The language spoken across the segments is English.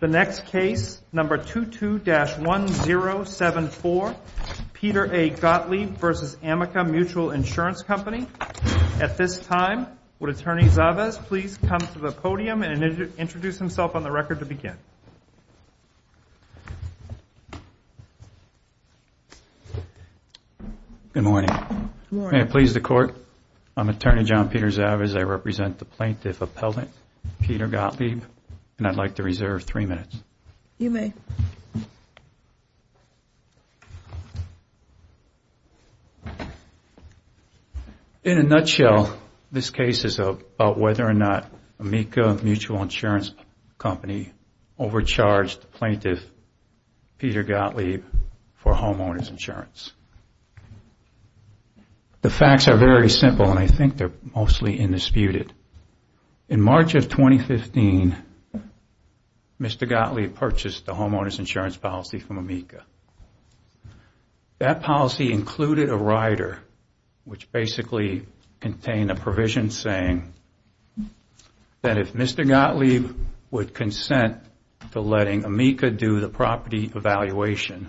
The next case, number 22-1074, Peter A. Gottlieb v. Amica Mutual Insurance Company. At this time, would Attorney Chavez please come to the podium and introduce himself on the record to begin? Good morning. Good morning. May it please the Court, I'm Attorney John Peter Chavez. I represent the plaintiff appellant, Peter Gottlieb, and I'd like to reserve three minutes. You may. In a nutshell, this case is about whether or not Amica Mutual Insurance Company overcharged the plaintiff, Peter Gottlieb, for homeowner's insurance. The facts are very simple, and I think they're mostly indisputed. In March of 2015, Mr. Gottlieb purchased the homeowner's insurance policy from Amica. That policy included a rider, which basically contained a provision saying that if Mr. Gottlieb would consent to letting Amica do the property evaluation,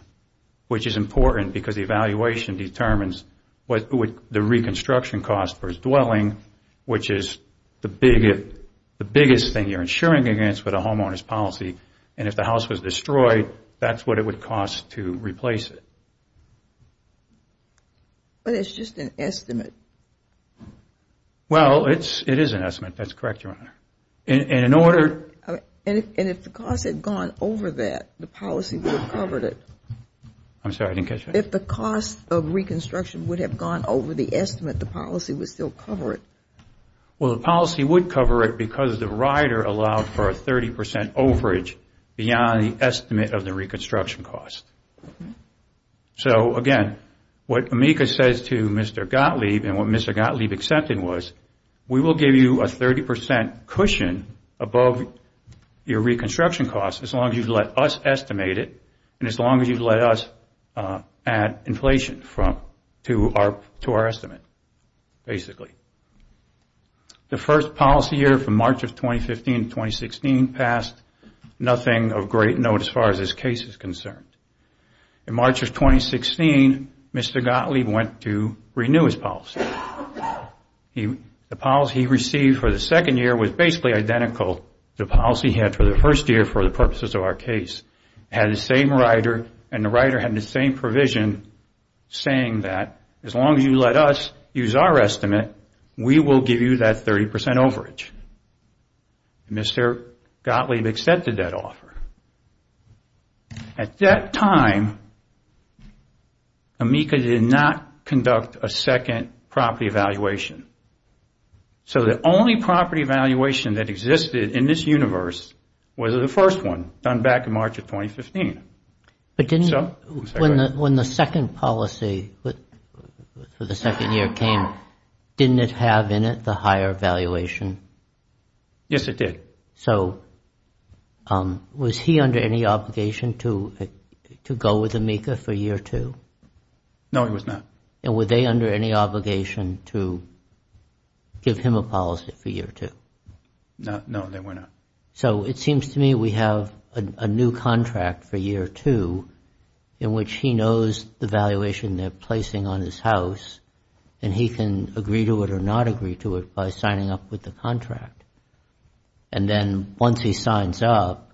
which is important because the evaluation determines the reconstruction cost for his dwelling, which is the biggest thing you're insuring against with a homeowner's policy, and if the house was destroyed, that's what it would cost to replace it. But it's just an estimate. Well, it is an estimate. That's correct, Your Honor. And if the cost had gone over that, the policy would have covered it. I'm sorry, I didn't catch that. If the cost of reconstruction would have gone over the estimate, the policy would still cover it. Well, the policy would cover it because the rider allowed for a 30 percent overage beyond the estimate of the reconstruction cost. So, again, what Amica says to Mr. Gottlieb and what Mr. Gottlieb accepted was, we will give you a 30 percent cushion above your reconstruction cost as long as you let us estimate it and as long as you let us add inflation to our estimate, basically. The first policy year from March of 2015 to 2016 passed, nothing of great note as far as this case is concerned. In March of 2016, Mr. Gottlieb went to renew his policy. The policy he received for the second year was basically identical to the policy he had for the first year for the purposes of our case. It had the same rider and the rider had the same provision saying that as long as you let us use our estimate, we will give you that 30 percent overage. Mr. Gottlieb accepted that offer. At that time, Amica did not conduct a second property evaluation. So the only property evaluation that existed in this universe was the first one done back in March of 2015. When the second policy for the second year came, didn't it have in it the higher evaluation? Yes, it did. So was he under any obligation to go with Amica for year two? No, he was not. And were they under any obligation to give him a policy for year two? No, they were not. So it seems to me we have a new contract for year two in which he knows the valuation they're placing on his house and he can agree to it or not agree to it by signing up with the contract. And then once he signs up,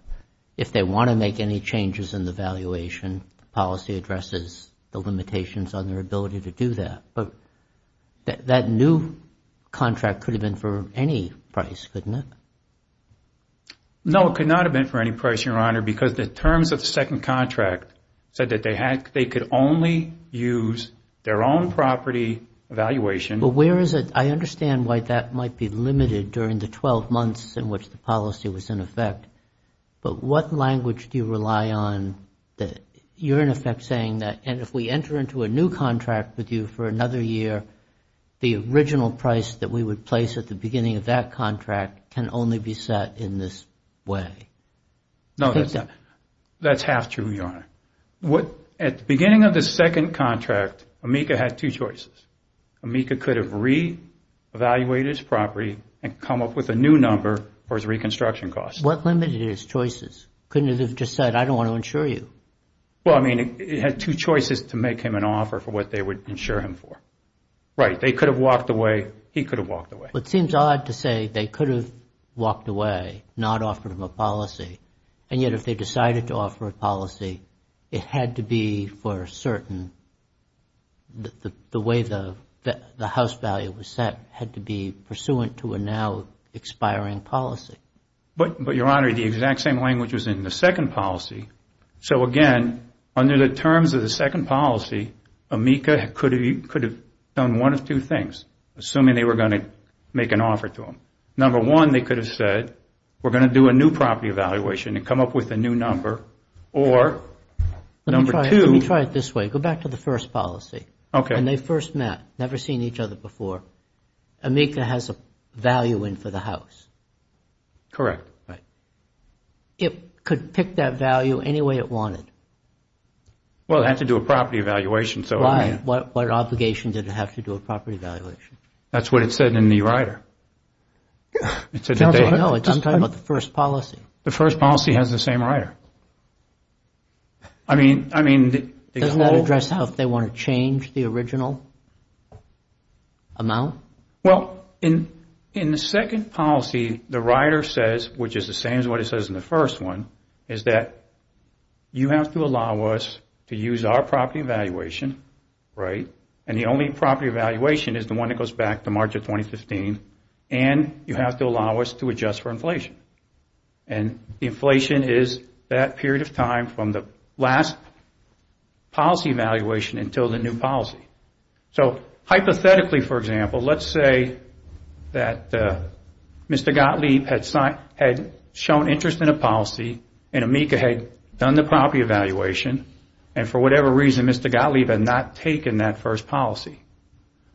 if they want to make any changes in the valuation, the policy addresses the limitations on their ability to do that. But that new contract could have been for any price, couldn't it? No, it could not have been for any price, Your Honor, because the terms of the second contract said that they could only use their own property evaluation. But where is it? I understand why that might be limited during the 12 months in which the policy was in effect. But what language do you rely on that you're in effect saying that and if we enter into a new contract with you for another year, the original price that we would place at the beginning of that contract can only be set in this way? No, that's half true, Your Honor. At the beginning of the second contract, Amica had two choices. Amica could have re-evaluated his property and come up with a new number for his reconstruction costs. What limited his choices? Couldn't it have just said, I don't want to insure you? Well, I mean, it had two choices to make him an offer for what they would insure him for. Right, they could have walked away, he could have walked away. It seems odd to say they could have walked away, not offered him a policy, and yet if they decided to offer a policy, it had to be for certain. The way the house value was set had to be pursuant to a now expiring policy. But, Your Honor, the exact same language was in the second policy. So again, under the terms of the second policy, Amica could have done one of two things, assuming they were going to make an offer to him. Number one, they could have said, we're going to do a new property evaluation and come up with a new number, or number two Let me try it this way, go back to the first policy. Okay. When they first met, never seen each other before, Amica has a value in for the house. Correct. It could pick that value any way it wanted. Well, it had to do a property evaluation, so I mean Right, what obligation did it have to do a property evaluation? That's what it said in the rider. No, I'm talking about the first policy. The first policy has the same rider. I mean, I mean Doesn't that address how they want to change the original amount? Well, in the second policy, the rider says, which is the same as what it says in the first one, is that you have to allow us to use our property evaluation, right, and the only property evaluation is the one that goes back to March of 2015, and you have to allow us to adjust for inflation. And inflation is that period of time from the last policy evaluation until the new policy. So hypothetically, for example, let's say that Mr. Gottlieb had shown interest in a policy and Amica had done the property evaluation, and for whatever reason Mr. Gottlieb had not taken that first policy.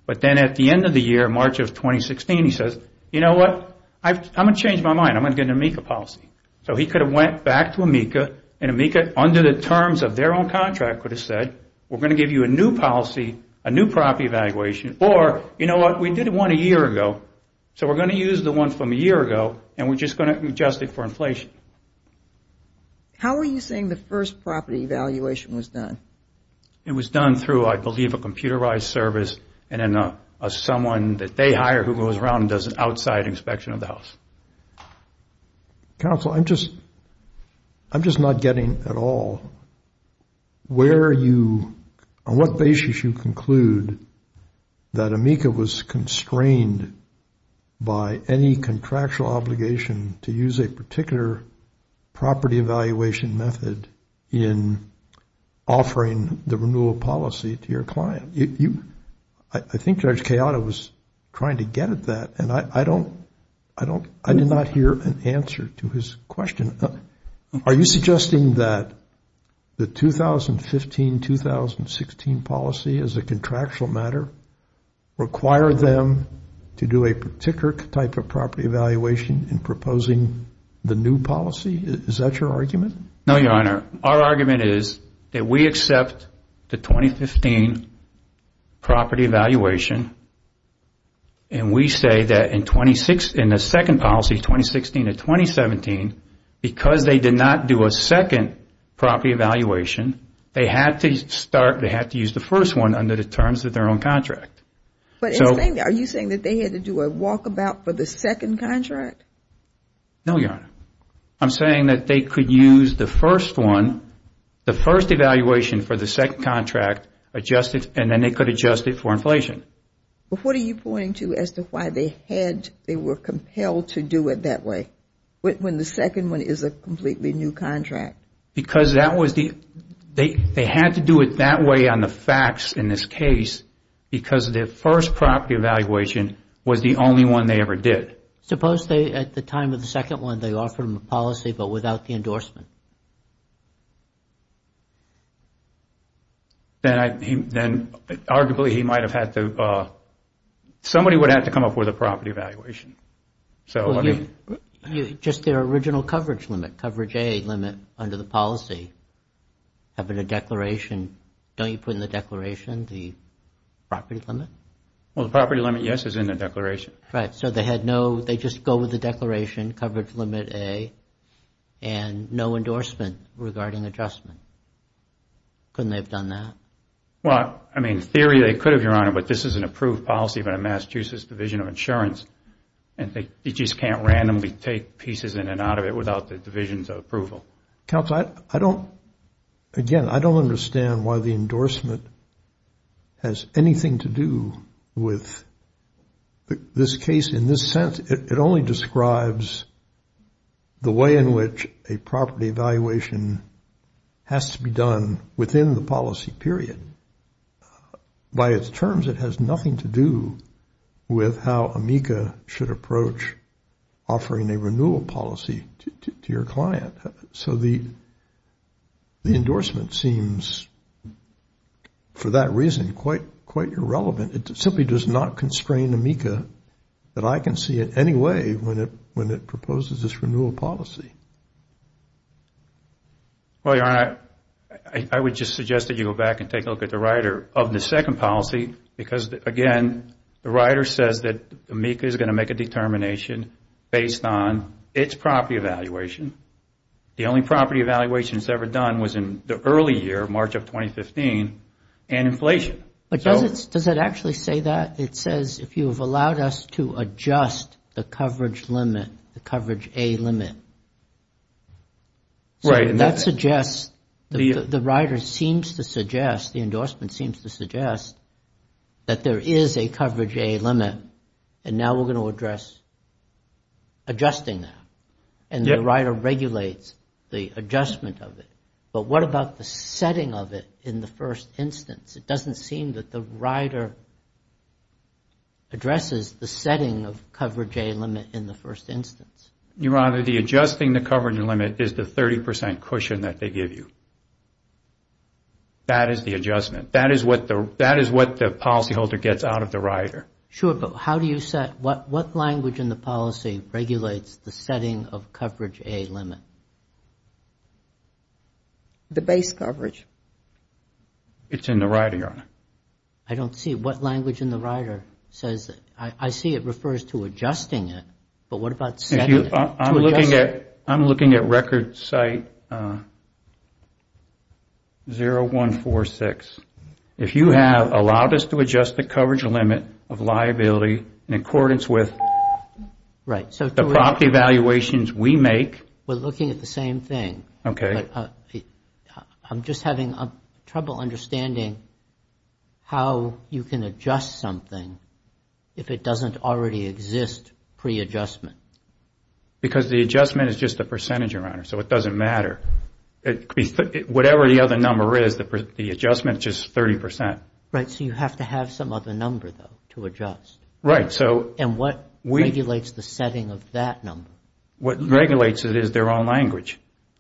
But then at the end of the year, March of 2016, he says, you know what, I'm going to change my mind. I'm going to get an Amica policy. So he could have went back to Amica, and Amica, under the terms of their own contract, could have said, we're going to give you a new policy, a new property evaluation, or, you know what, we did one a year ago, so we're going to use the one from a year ago, and we're just going to adjust it for inflation. How are you saying the first property evaluation was done? It was done through, I believe, a computerized service and then someone that they hire who goes around and does an outside inspection of the house. Counsel, I'm just not getting at all where you, on what basis you conclude that Amica was constrained by any contractual obligation to use a particular property evaluation method in offering the renewal policy to your client. I think Judge Kayada was trying to get at that, and I did not hear an answer to his question. Are you suggesting that the 2015-2016 policy as a contractual matter required them to do a particular type of property evaluation in proposing the new policy? Is that your argument? No, Your Honor. Our argument is that we accept the 2015 property evaluation, and we say that in the second policy, 2016-2017, because they did not do a second property evaluation, they had to use the first one under the terms of their own contract. Are you saying that they had to do a walkabout for the second contract? No, Your Honor. I'm saying that they could use the first one, the first evaluation for the second contract, and then they could adjust it for inflation. But what are you pointing to as to why they were compelled to do it that way when the second one is a completely new contract? Because they had to do it that way on the facts in this case because their first property evaluation was the only one they ever did. But suppose at the time of the second one they offered them a policy but without the endorsement? Then arguably he might have had to, somebody would have had to come up with a property evaluation. Just their original coverage limit, coverage A limit under the policy, having a declaration, don't you put in the declaration the property limit? Well, the property limit, yes, is in the declaration. Right. So they had no, they just go with the declaration coverage limit A and no endorsement regarding adjustment. Couldn't they have done that? Well, I mean, in theory they could have, Your Honor, but this is an approved policy by the Massachusetts Division of Insurance and they just can't randomly take pieces in and out of it without the division's approval. Counsel, I don't, again, I don't understand why the endorsement has anything to do with this case. In this sense, it only describes the way in which a property evaluation has to be done within the policy period. By its terms, it has nothing to do with how AMICA should approach offering a renewal policy to your client. So the endorsement seems, for that reason, quite irrelevant. It simply does not constrain AMICA that I can see it anyway when it proposes this renewal policy. Well, Your Honor, I would just suggest that you go back and take a look at the rider of the second policy because, again, the rider says that AMICA is going to make a determination based on its property evaluation. The only property evaluation it's ever done was in the early year, March of 2015, and inflation. But does it actually say that? It says if you have allowed us to adjust the coverage limit, the coverage A limit. Right. The rider seems to suggest, the endorsement seems to suggest that there is a coverage A limit and now we're going to address adjusting that. And the rider regulates the adjustment of it. But what about the setting of it in the first instance? It doesn't seem that the rider addresses the setting of coverage A limit in the first instance. Your Honor, the adjusting the coverage limit is the 30 percent cushion that they give you. That is the adjustment. That is what the policyholder gets out of the rider. Sure, but how do you set, what language in the policy regulates the setting of coverage A limit? The base coverage. It's in the rider, Your Honor. I don't see, what language in the rider says, I see it refers to adjusting it, but what about setting it? I'm looking at record site 0146. If you have allowed us to adjust the coverage limit of liability in accordance with the property valuations we make. We're looking at the same thing. Okay. I'm just having trouble understanding how you can adjust something if it doesn't already exist pre-adjustment. Because the adjustment is just the percentage, Your Honor, so it doesn't matter. Whatever the other number is, the adjustment is just 30 percent. Right, so you have to have some other number, though, to adjust. Right, so. And what regulates the setting of that number? What regulates it is their own language.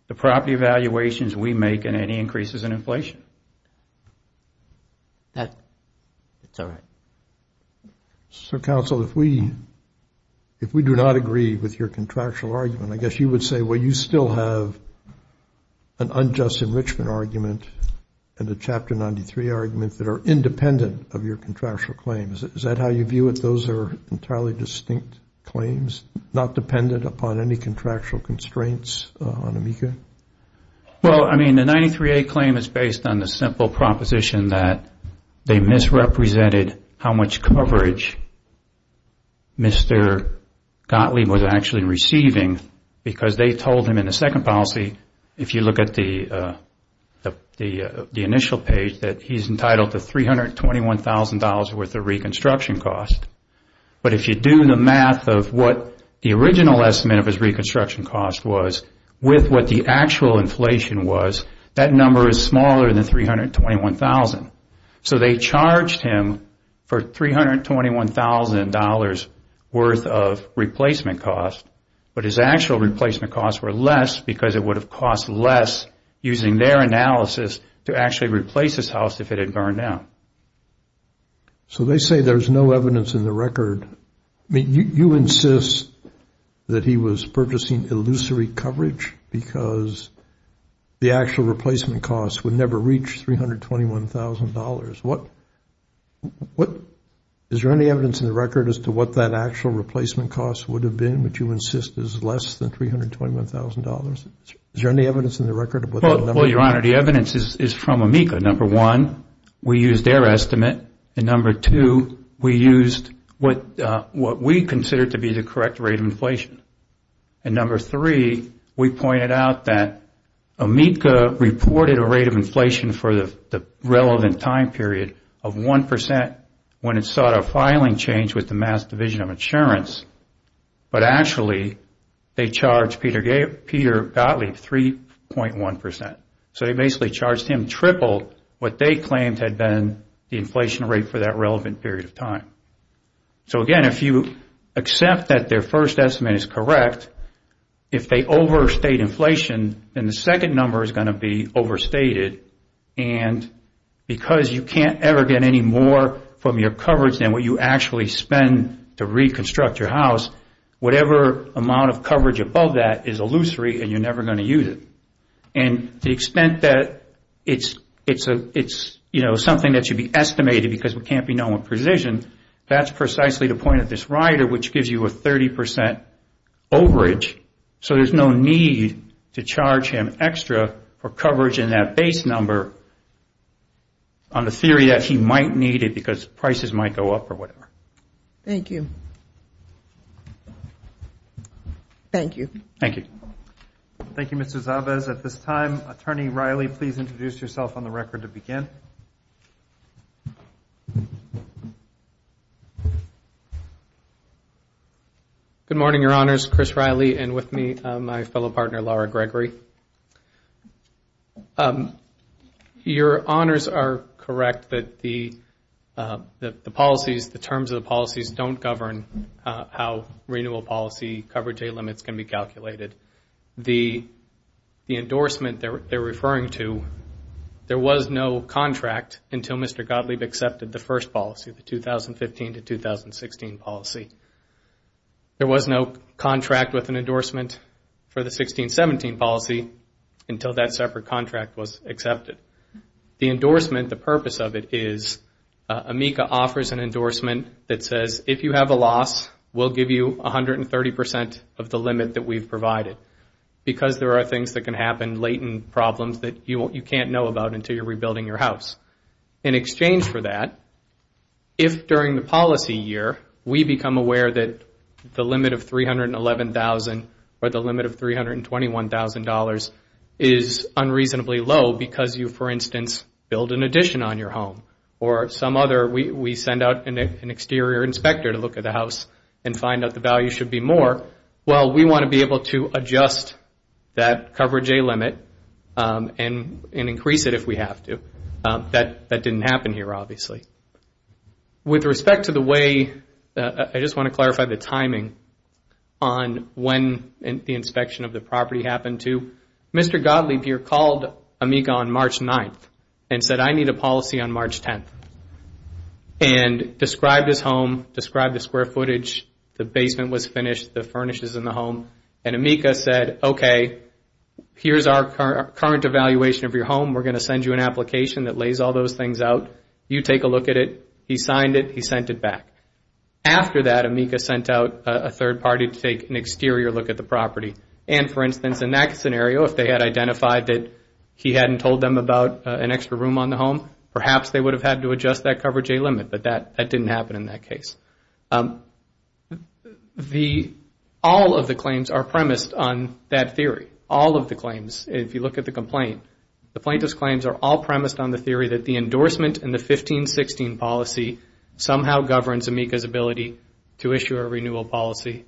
The property valuations we make and any increases in inflation. That's all right. So, counsel, if we do not agree with your contractual argument, I guess you would say, well, you still have an unjust enrichment argument and a Chapter 93 argument that are independent of your contractual claims. Is that how you view it? Those are entirely distinct claims, not dependent upon any contractual constraints on AMICA? Well, I mean, the 93A claim is based on the simple proposition that they misrepresented how much coverage Mr. Gottlieb was actually receiving because they told him in the second policy, if you look at the initial page, that he's entitled to $321,000 worth of reconstruction cost. But if you do the math of what the original estimate of his reconstruction cost was, with what the actual inflation was, that number is smaller than $321,000. So they charged him for $321,000 worth of replacement cost, but his actual replacement costs were less because it would have cost less, using their analysis, to actually replace his house if it had burned down. So they say there's no evidence in the record. I mean, you insist that he was purchasing illusory coverage because the actual replacement cost would never reach $321,000. Is there any evidence in the record as to what that actual replacement cost would have been, which you insist is less than $321,000? Is there any evidence in the record? Well, Your Honor, the evidence is from AMICA. Number one, we used their estimate. And number two, we used what we considered to be the correct rate of inflation. And number three, we pointed out that AMICA reported a rate of inflation for the relevant time period of 1% when it sought a filing change with the Mass. Division of Insurance, but actually they charged Peter Gottlieb 3.1%. So they basically charged him triple what they claimed had been the inflation rate for that relevant period of time. So again, if you accept that their first estimate is correct, if they overstate inflation, then the second number is going to be overstated. And because you can't ever get any more from your coverage than what you actually spend to reconstruct your house, whatever amount of coverage above that is illusory and you're never going to use it. And to the extent that it's something that should be estimated because we can't be known with precision, that's precisely the point of this rider, which gives you a 30% overage. So there's no need to charge him extra for coverage in that base number on the theory that he might need it because prices might go up or whatever. Thank you. Thank you. Thank you. Thank you, Mr. Zabez. At this time, Attorney Riley, please introduce yourself on the record to begin. Good morning, Your Honors. Chris Riley and with me my fellow partner, Laura Gregory. Your Honors are correct that the policies, the terms of the policies, don't govern how renewal policy coverage day limits can be calculated. The endorsement they're referring to, there was no contract until Mr. Gottlieb accepted the first policy, the 2015 to 2016 policy. There was no contract with an endorsement for the 2016-17 policy until that separate contract was accepted. The endorsement, the purpose of it is, AMICA offers an endorsement that says if you have a loss, we'll give you 130% of the limit that we've provided because there are things that can happen, latent problems, that you can't know about until you're rebuilding your house. In exchange for that, if during the policy year, we become aware that the limit of $311,000 or the limit of $321,000 is unreasonably low because you, for instance, build an addition on your home or some other, we send out an exterior inspector to look at the house and find out the value should be more. Or, well, we want to be able to adjust that coverage day limit and increase it if we have to. That didn't happen here, obviously. With respect to the way, I just want to clarify the timing on when the inspection of the property happened to, Mr. Gottlieb here called AMICA on March 9th and said, I need a policy on March 10th, and described his home, described the square footage, the basement was finished, the furnishes in the home, and AMICA said, okay, here's our current evaluation of your home. We're going to send you an application that lays all those things out. You take a look at it. He signed it. He sent it back. After that, AMICA sent out a third party to take an exterior look at the property. And, for instance, in that scenario, if they had identified that he hadn't told them about an extra room on the home, perhaps they would have had to adjust that coverage day limit, but that didn't happen in that case. All of the claims are premised on that theory. All of the claims, if you look at the complaint, the plaintiff's claims are all premised on the theory that the endorsement and the 15-16 policy somehow governs AMICA's ability to issue a renewal policy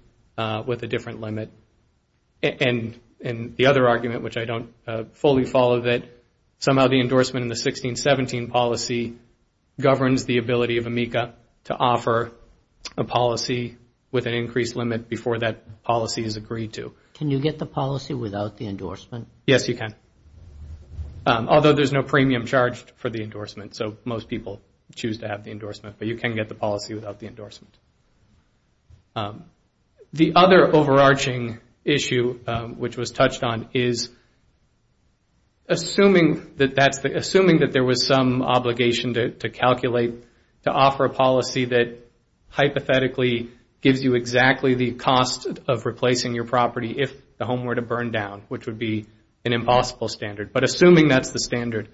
with a different limit. And the other argument, which I don't fully follow, is that somehow the endorsement in the 16-17 policy governs the ability of AMICA to offer a policy with an increased limit before that policy is agreed to. Can you get the policy without the endorsement? Yes, you can, although there's no premium charged for the endorsement, so most people choose to have the endorsement, but you can get the policy without the endorsement. The other overarching issue, which was touched on, is assuming that there was some obligation to calculate to offer a policy that hypothetically gives you exactly the cost of replacing your property if the home were to burn down, which would be an impossible standard, but assuming that's the standard,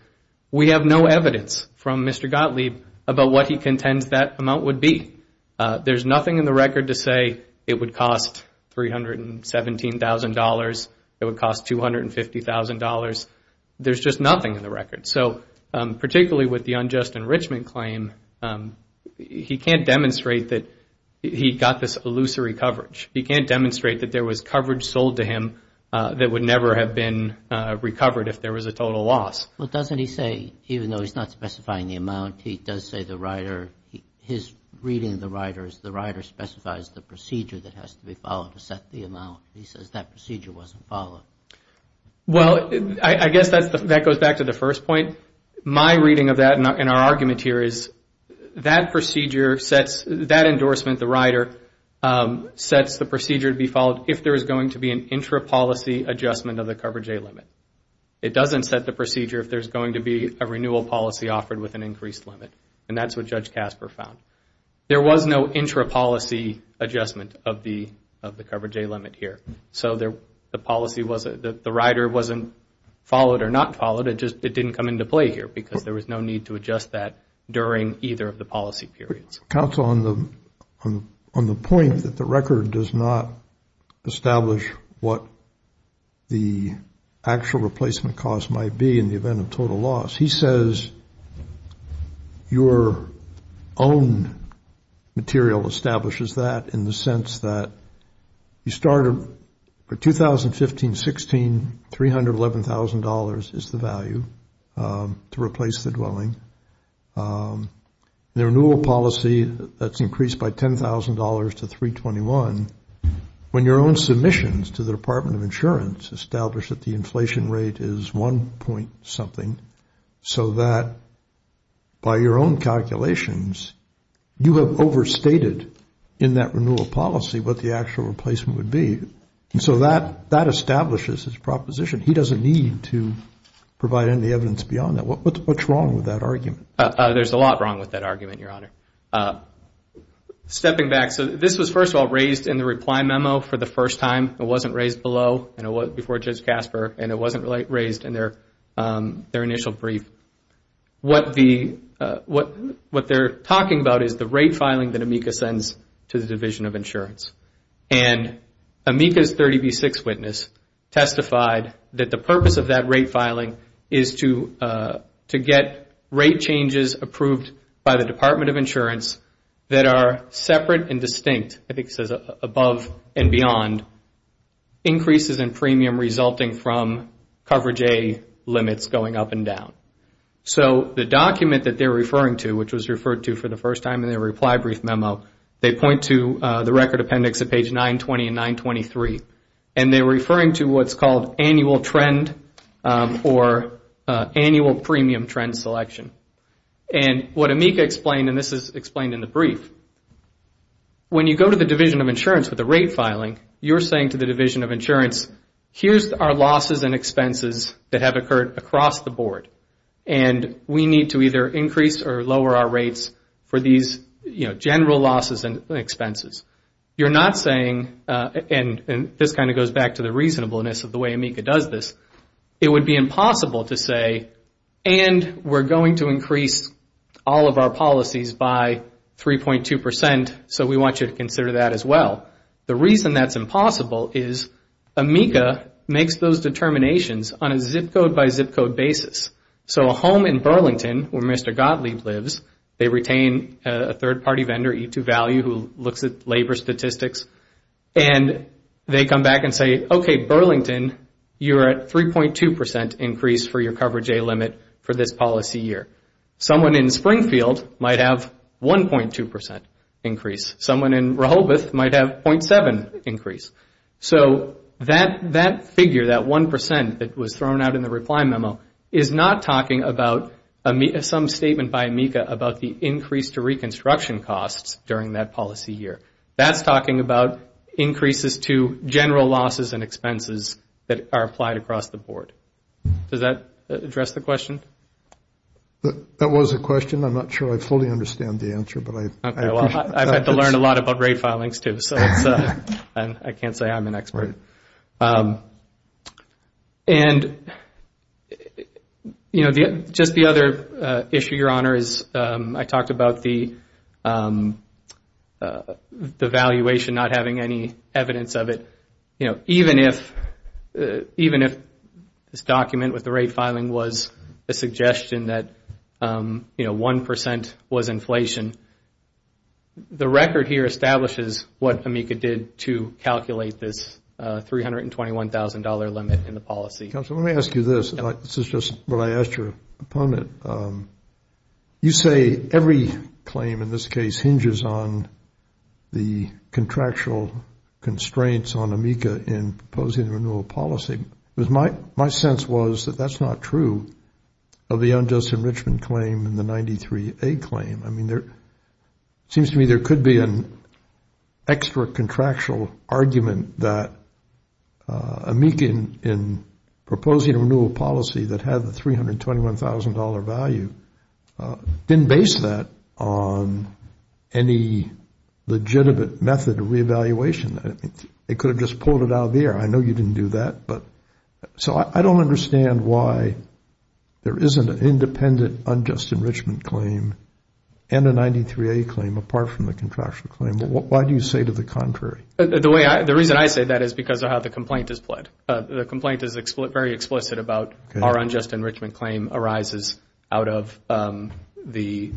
we have no evidence from Mr. Gottlieb about what he contends that amount would be. There's nothing in the record to say it would cost $317,000, it would cost $250,000. There's just nothing in the record. So particularly with the unjust enrichment claim, he can't demonstrate that he got this illusory coverage. He can't demonstrate that there was coverage sold to him that would never have been recovered if there was a total loss. Well, doesn't he say, even though he's not specifying the amount, he does say the rider, his reading of the rider is the rider specifies the procedure that has to be followed to set the amount. He says that procedure wasn't followed. Well, I guess that goes back to the first point. My reading of that in our argument here is that procedure sets, that endorsement, the rider, sets the procedure to be followed if there is going to be an intra-policy adjustment of the coverage date limit. It doesn't set the procedure if there's going to be a renewal policy offered with an increased limit. And that's what Judge Casper found. There was no intra-policy adjustment of the coverage day limit here. So the policy wasn't, the rider wasn't followed or not followed, it just didn't come into play here because there was no need to adjust that during either of the policy periods. Counsel, on the point that the record does not establish what the actual replacement cost might be in the event of total loss, he says your own material establishes that in the sense that you started for 2015-16, $311,000 is the value to replace the dwelling. The renewal policy that's increased by $10,000 to 321, when your own submissions to the Department of Insurance establish that the inflation rate is one point something, so that by your own calculations, you have overstated in that renewal policy what the actual replacement would be. So that establishes his proposition. He doesn't need to provide any evidence beyond that. What's wrong with that argument? There's a lot wrong with that argument, Your Honor. Stepping back, so this was first of all raised in the reply memo for the first time. It wasn't raised below, before Judge Casper, and it wasn't raised in their initial brief. What they're talking about is the rate filing that AMICA sends to the Division of Insurance. And AMICA's 30B6 witness testified that the purpose of that rate filing is to get rate changes approved by the Department of Insurance that are separate and distinct, I think it says above and beyond, increases in premium resulting from coverage A limits going up and down. So the document that they're referring to, which was referred to for the first time in their reply brief memo, they point to the record appendix at page 920 and 923. And they're referring to what's called annual trend or annual premium trend selection. And what AMICA explained, and this is explained in the brief, when you go to the Division of Insurance for the rate filing, you're saying to the Division of Insurance, here's our losses and expenses that have occurred across the board. And we need to either increase or lower our rates for these general losses and expenses. You're not saying, and this kind of goes back to the reasonableness of the way AMICA does this, it would be impossible to say, and we're going to increase all of our policies by 3.2%, so we want you to consider that as well. The reason that's impossible is AMICA makes those determinations on a zip code by zip code basis. So a home in Burlington where Mr. Gottlieb lives, they retain a third-party vendor, E2 Value, who looks at labor statistics, and they come back and say, okay, Burlington, you're at 3.2% increase for your coverage A limit for this policy year. Someone in Springfield might have 1.2% increase. Someone in Rehoboth might have 0.7% increase. So that figure, that 1% that was thrown out in the reply memo, is not talking about some statement by AMICA about the increase to reconstruction costs during that policy year. That's talking about increases to general losses and expenses that are applied across the board. Does that address the question? That was a question. I'm not sure I fully understand the answer, but I appreciate it. I've had to learn a lot about rate filings, too, so I can't say I'm an expert. And, you know, just the other issue, Your Honor, is I talked about the valuation not having any evidence of it. You know, even if this document with the rate filing was a suggestion that, you know, 1% was inflation, the record here establishes what AMICA did to calculate this $321,000 limit in the policy. Counsel, let me ask you this. This is just what I asked your opponent. You say every claim in this case hinges on the contractual constraints on AMICA in proposing the renewal policy. My sense was that that's not true of the unjust enrichment claim and the 93A claim. I mean, it seems to me there could be an extra contractual argument that AMICA in proposing a renewal policy that had the $321,000 value didn't base that on any legitimate method of reevaluation. It could have just pulled it out of the air. I know you didn't do that. So I don't understand why there isn't an independent unjust enrichment claim and a 93A claim apart from the contractual claim. Why do you say to the contrary? The reason I say that is because of how the complaint is pled. The complaint is very explicit about our unjust enrichment claim arises out of the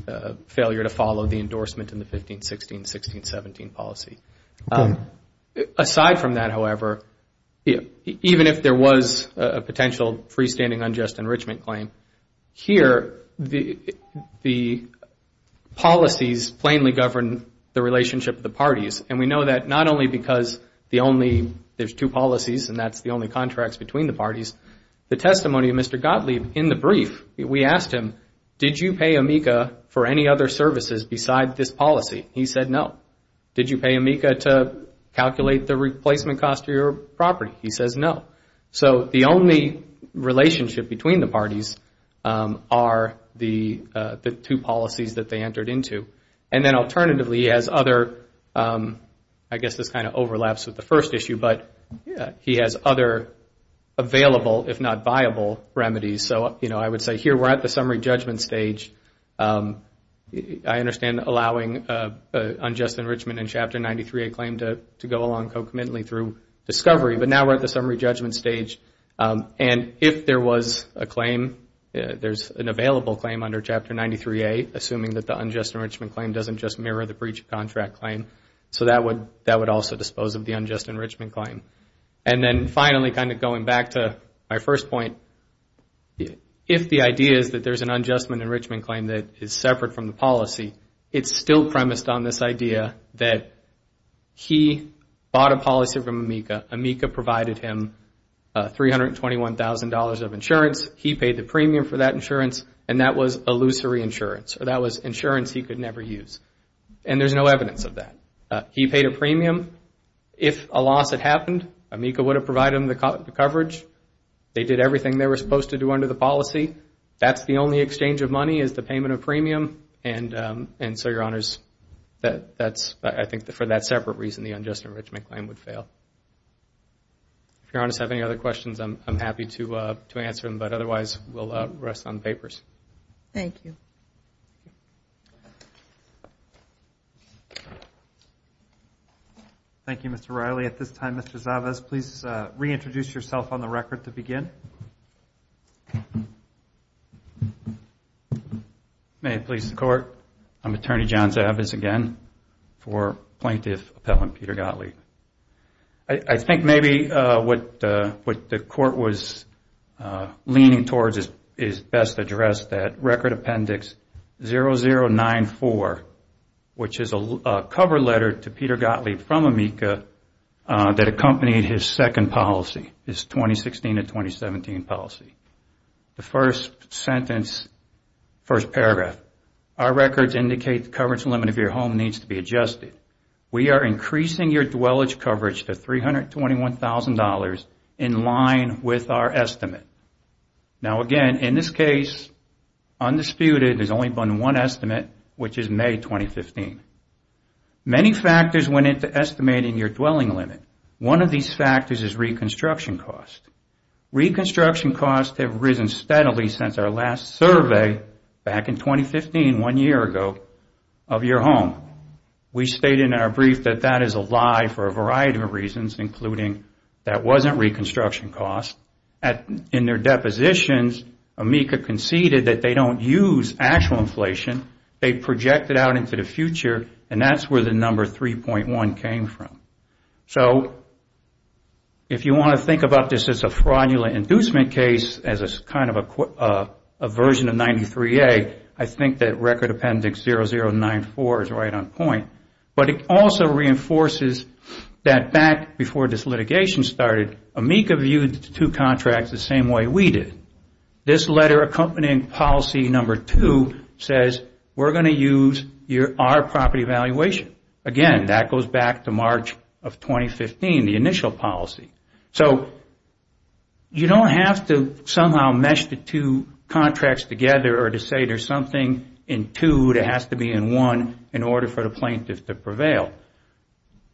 failure to follow the endorsement in the 15-16, 16-17 policy. Aside from that, however, even if there was a potential freestanding unjust enrichment claim, here the policies plainly govern the relationship of the parties. And we know that not only because there's two policies and that's the only contracts between the parties. The testimony of Mr. Gottlieb in the brief, we asked him, did you pay AMICA for any other services besides this policy? He said no. Did you pay AMICA to calculate the replacement cost of your property? He says no. So the only relationship between the parties are the two policies that they entered into. And then alternatively, he has other, I guess this kind of overlaps with the first issue, but he has other available, if not viable, remedies. So I would say here we're at the summary judgment stage. I understand allowing unjust enrichment in Chapter 93A claim to go along co-committantly through discovery, but now we're at the summary judgment stage. And if there was a claim, there's an available claim under Chapter 93A, assuming that the unjust enrichment claim doesn't just mirror the breach of contract claim. So that would also dispose of the unjust enrichment claim. And then finally, kind of going back to my first point, if the idea is that there's an unjust enrichment claim that is separate from the policy, it's still premised on this idea that he bought a policy from AMICA. AMICA provided him $321,000 of insurance. He paid the premium for that insurance, and that was illusory insurance, or that was insurance he could never use. And there's no evidence of that. He paid a premium. If a loss had happened, AMICA would have provided him the coverage. They did everything they were supposed to do under the policy. That's the only exchange of money, is the payment of premium. And so, Your Honors, I think for that separate reason, the unjust enrichment claim would fail. If Your Honors have any other questions, I'm happy to answer them. But otherwise, we'll rest on the papers. Thank you. Thank you, Mr. Riley. At this time, Mr. Zavas, please reintroduce yourself on the record to begin. May it please the Court. I'm Attorney John Zavas again for Plaintiff Appellant Peter Gottlieb. I think maybe what the Court was leaning towards is best addressed that Record Appendix 0094, which is a cover letter to Peter Gottlieb from AMICA that accompanied his second policy, his 2016 and 2017 policy. The first sentence, first paragraph, our records indicate the coverage limit of your home needs to be adjusted. We are increasing your dwellage coverage to $321,000 in line with our estimate. Now, again, in this case, undisputed, there's only been one estimate, which is May 2015. Many factors went into estimating your dwelling limit. One of these factors is reconstruction costs. Reconstruction costs have risen steadily since our last survey back in 2015, one year ago, of your home. We state in our brief that that is a lie for a variety of reasons, including that wasn't reconstruction costs. In their depositions, AMICA conceded that they don't use actual inflation. They project it out into the future, and that's where the number 3.1 came from. So if you want to think about this as a fraudulent inducement case, as a kind of a version of 93A, I think that Record Appendix 0094 is right on point. But it also reinforces that back before this litigation started, AMICA viewed the two contracts the same way we did. This letter accompanying policy number 2 says, we're going to use our property valuation. Again, that goes back to March of 2015, the initial policy. So you don't have to somehow mesh the two contracts together or to say there's something in 2 that has to be in 1 in order for the plaintiff to prevail.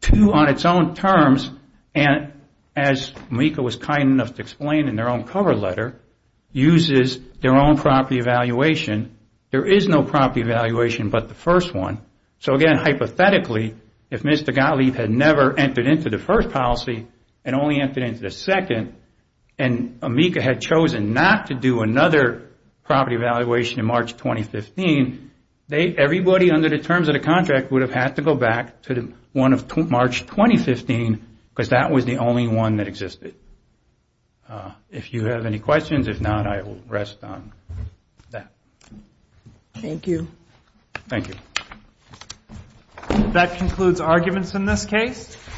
2 on its own terms, and as AMICA was kind enough to explain in their own cover letter, uses their own property valuation. There is no property valuation but the first one. So again, hypothetically, if Mr. Gottlieb had never entered into the first policy and only entered into the second, and AMICA had chosen not to do another property valuation in March 2015, everybody under the terms of the contract would have had to go back to March 2015 because that was the only one that existed. If you have any questions, if not, I will rest on that. Thank you. Thank you. That concludes arguments in this case.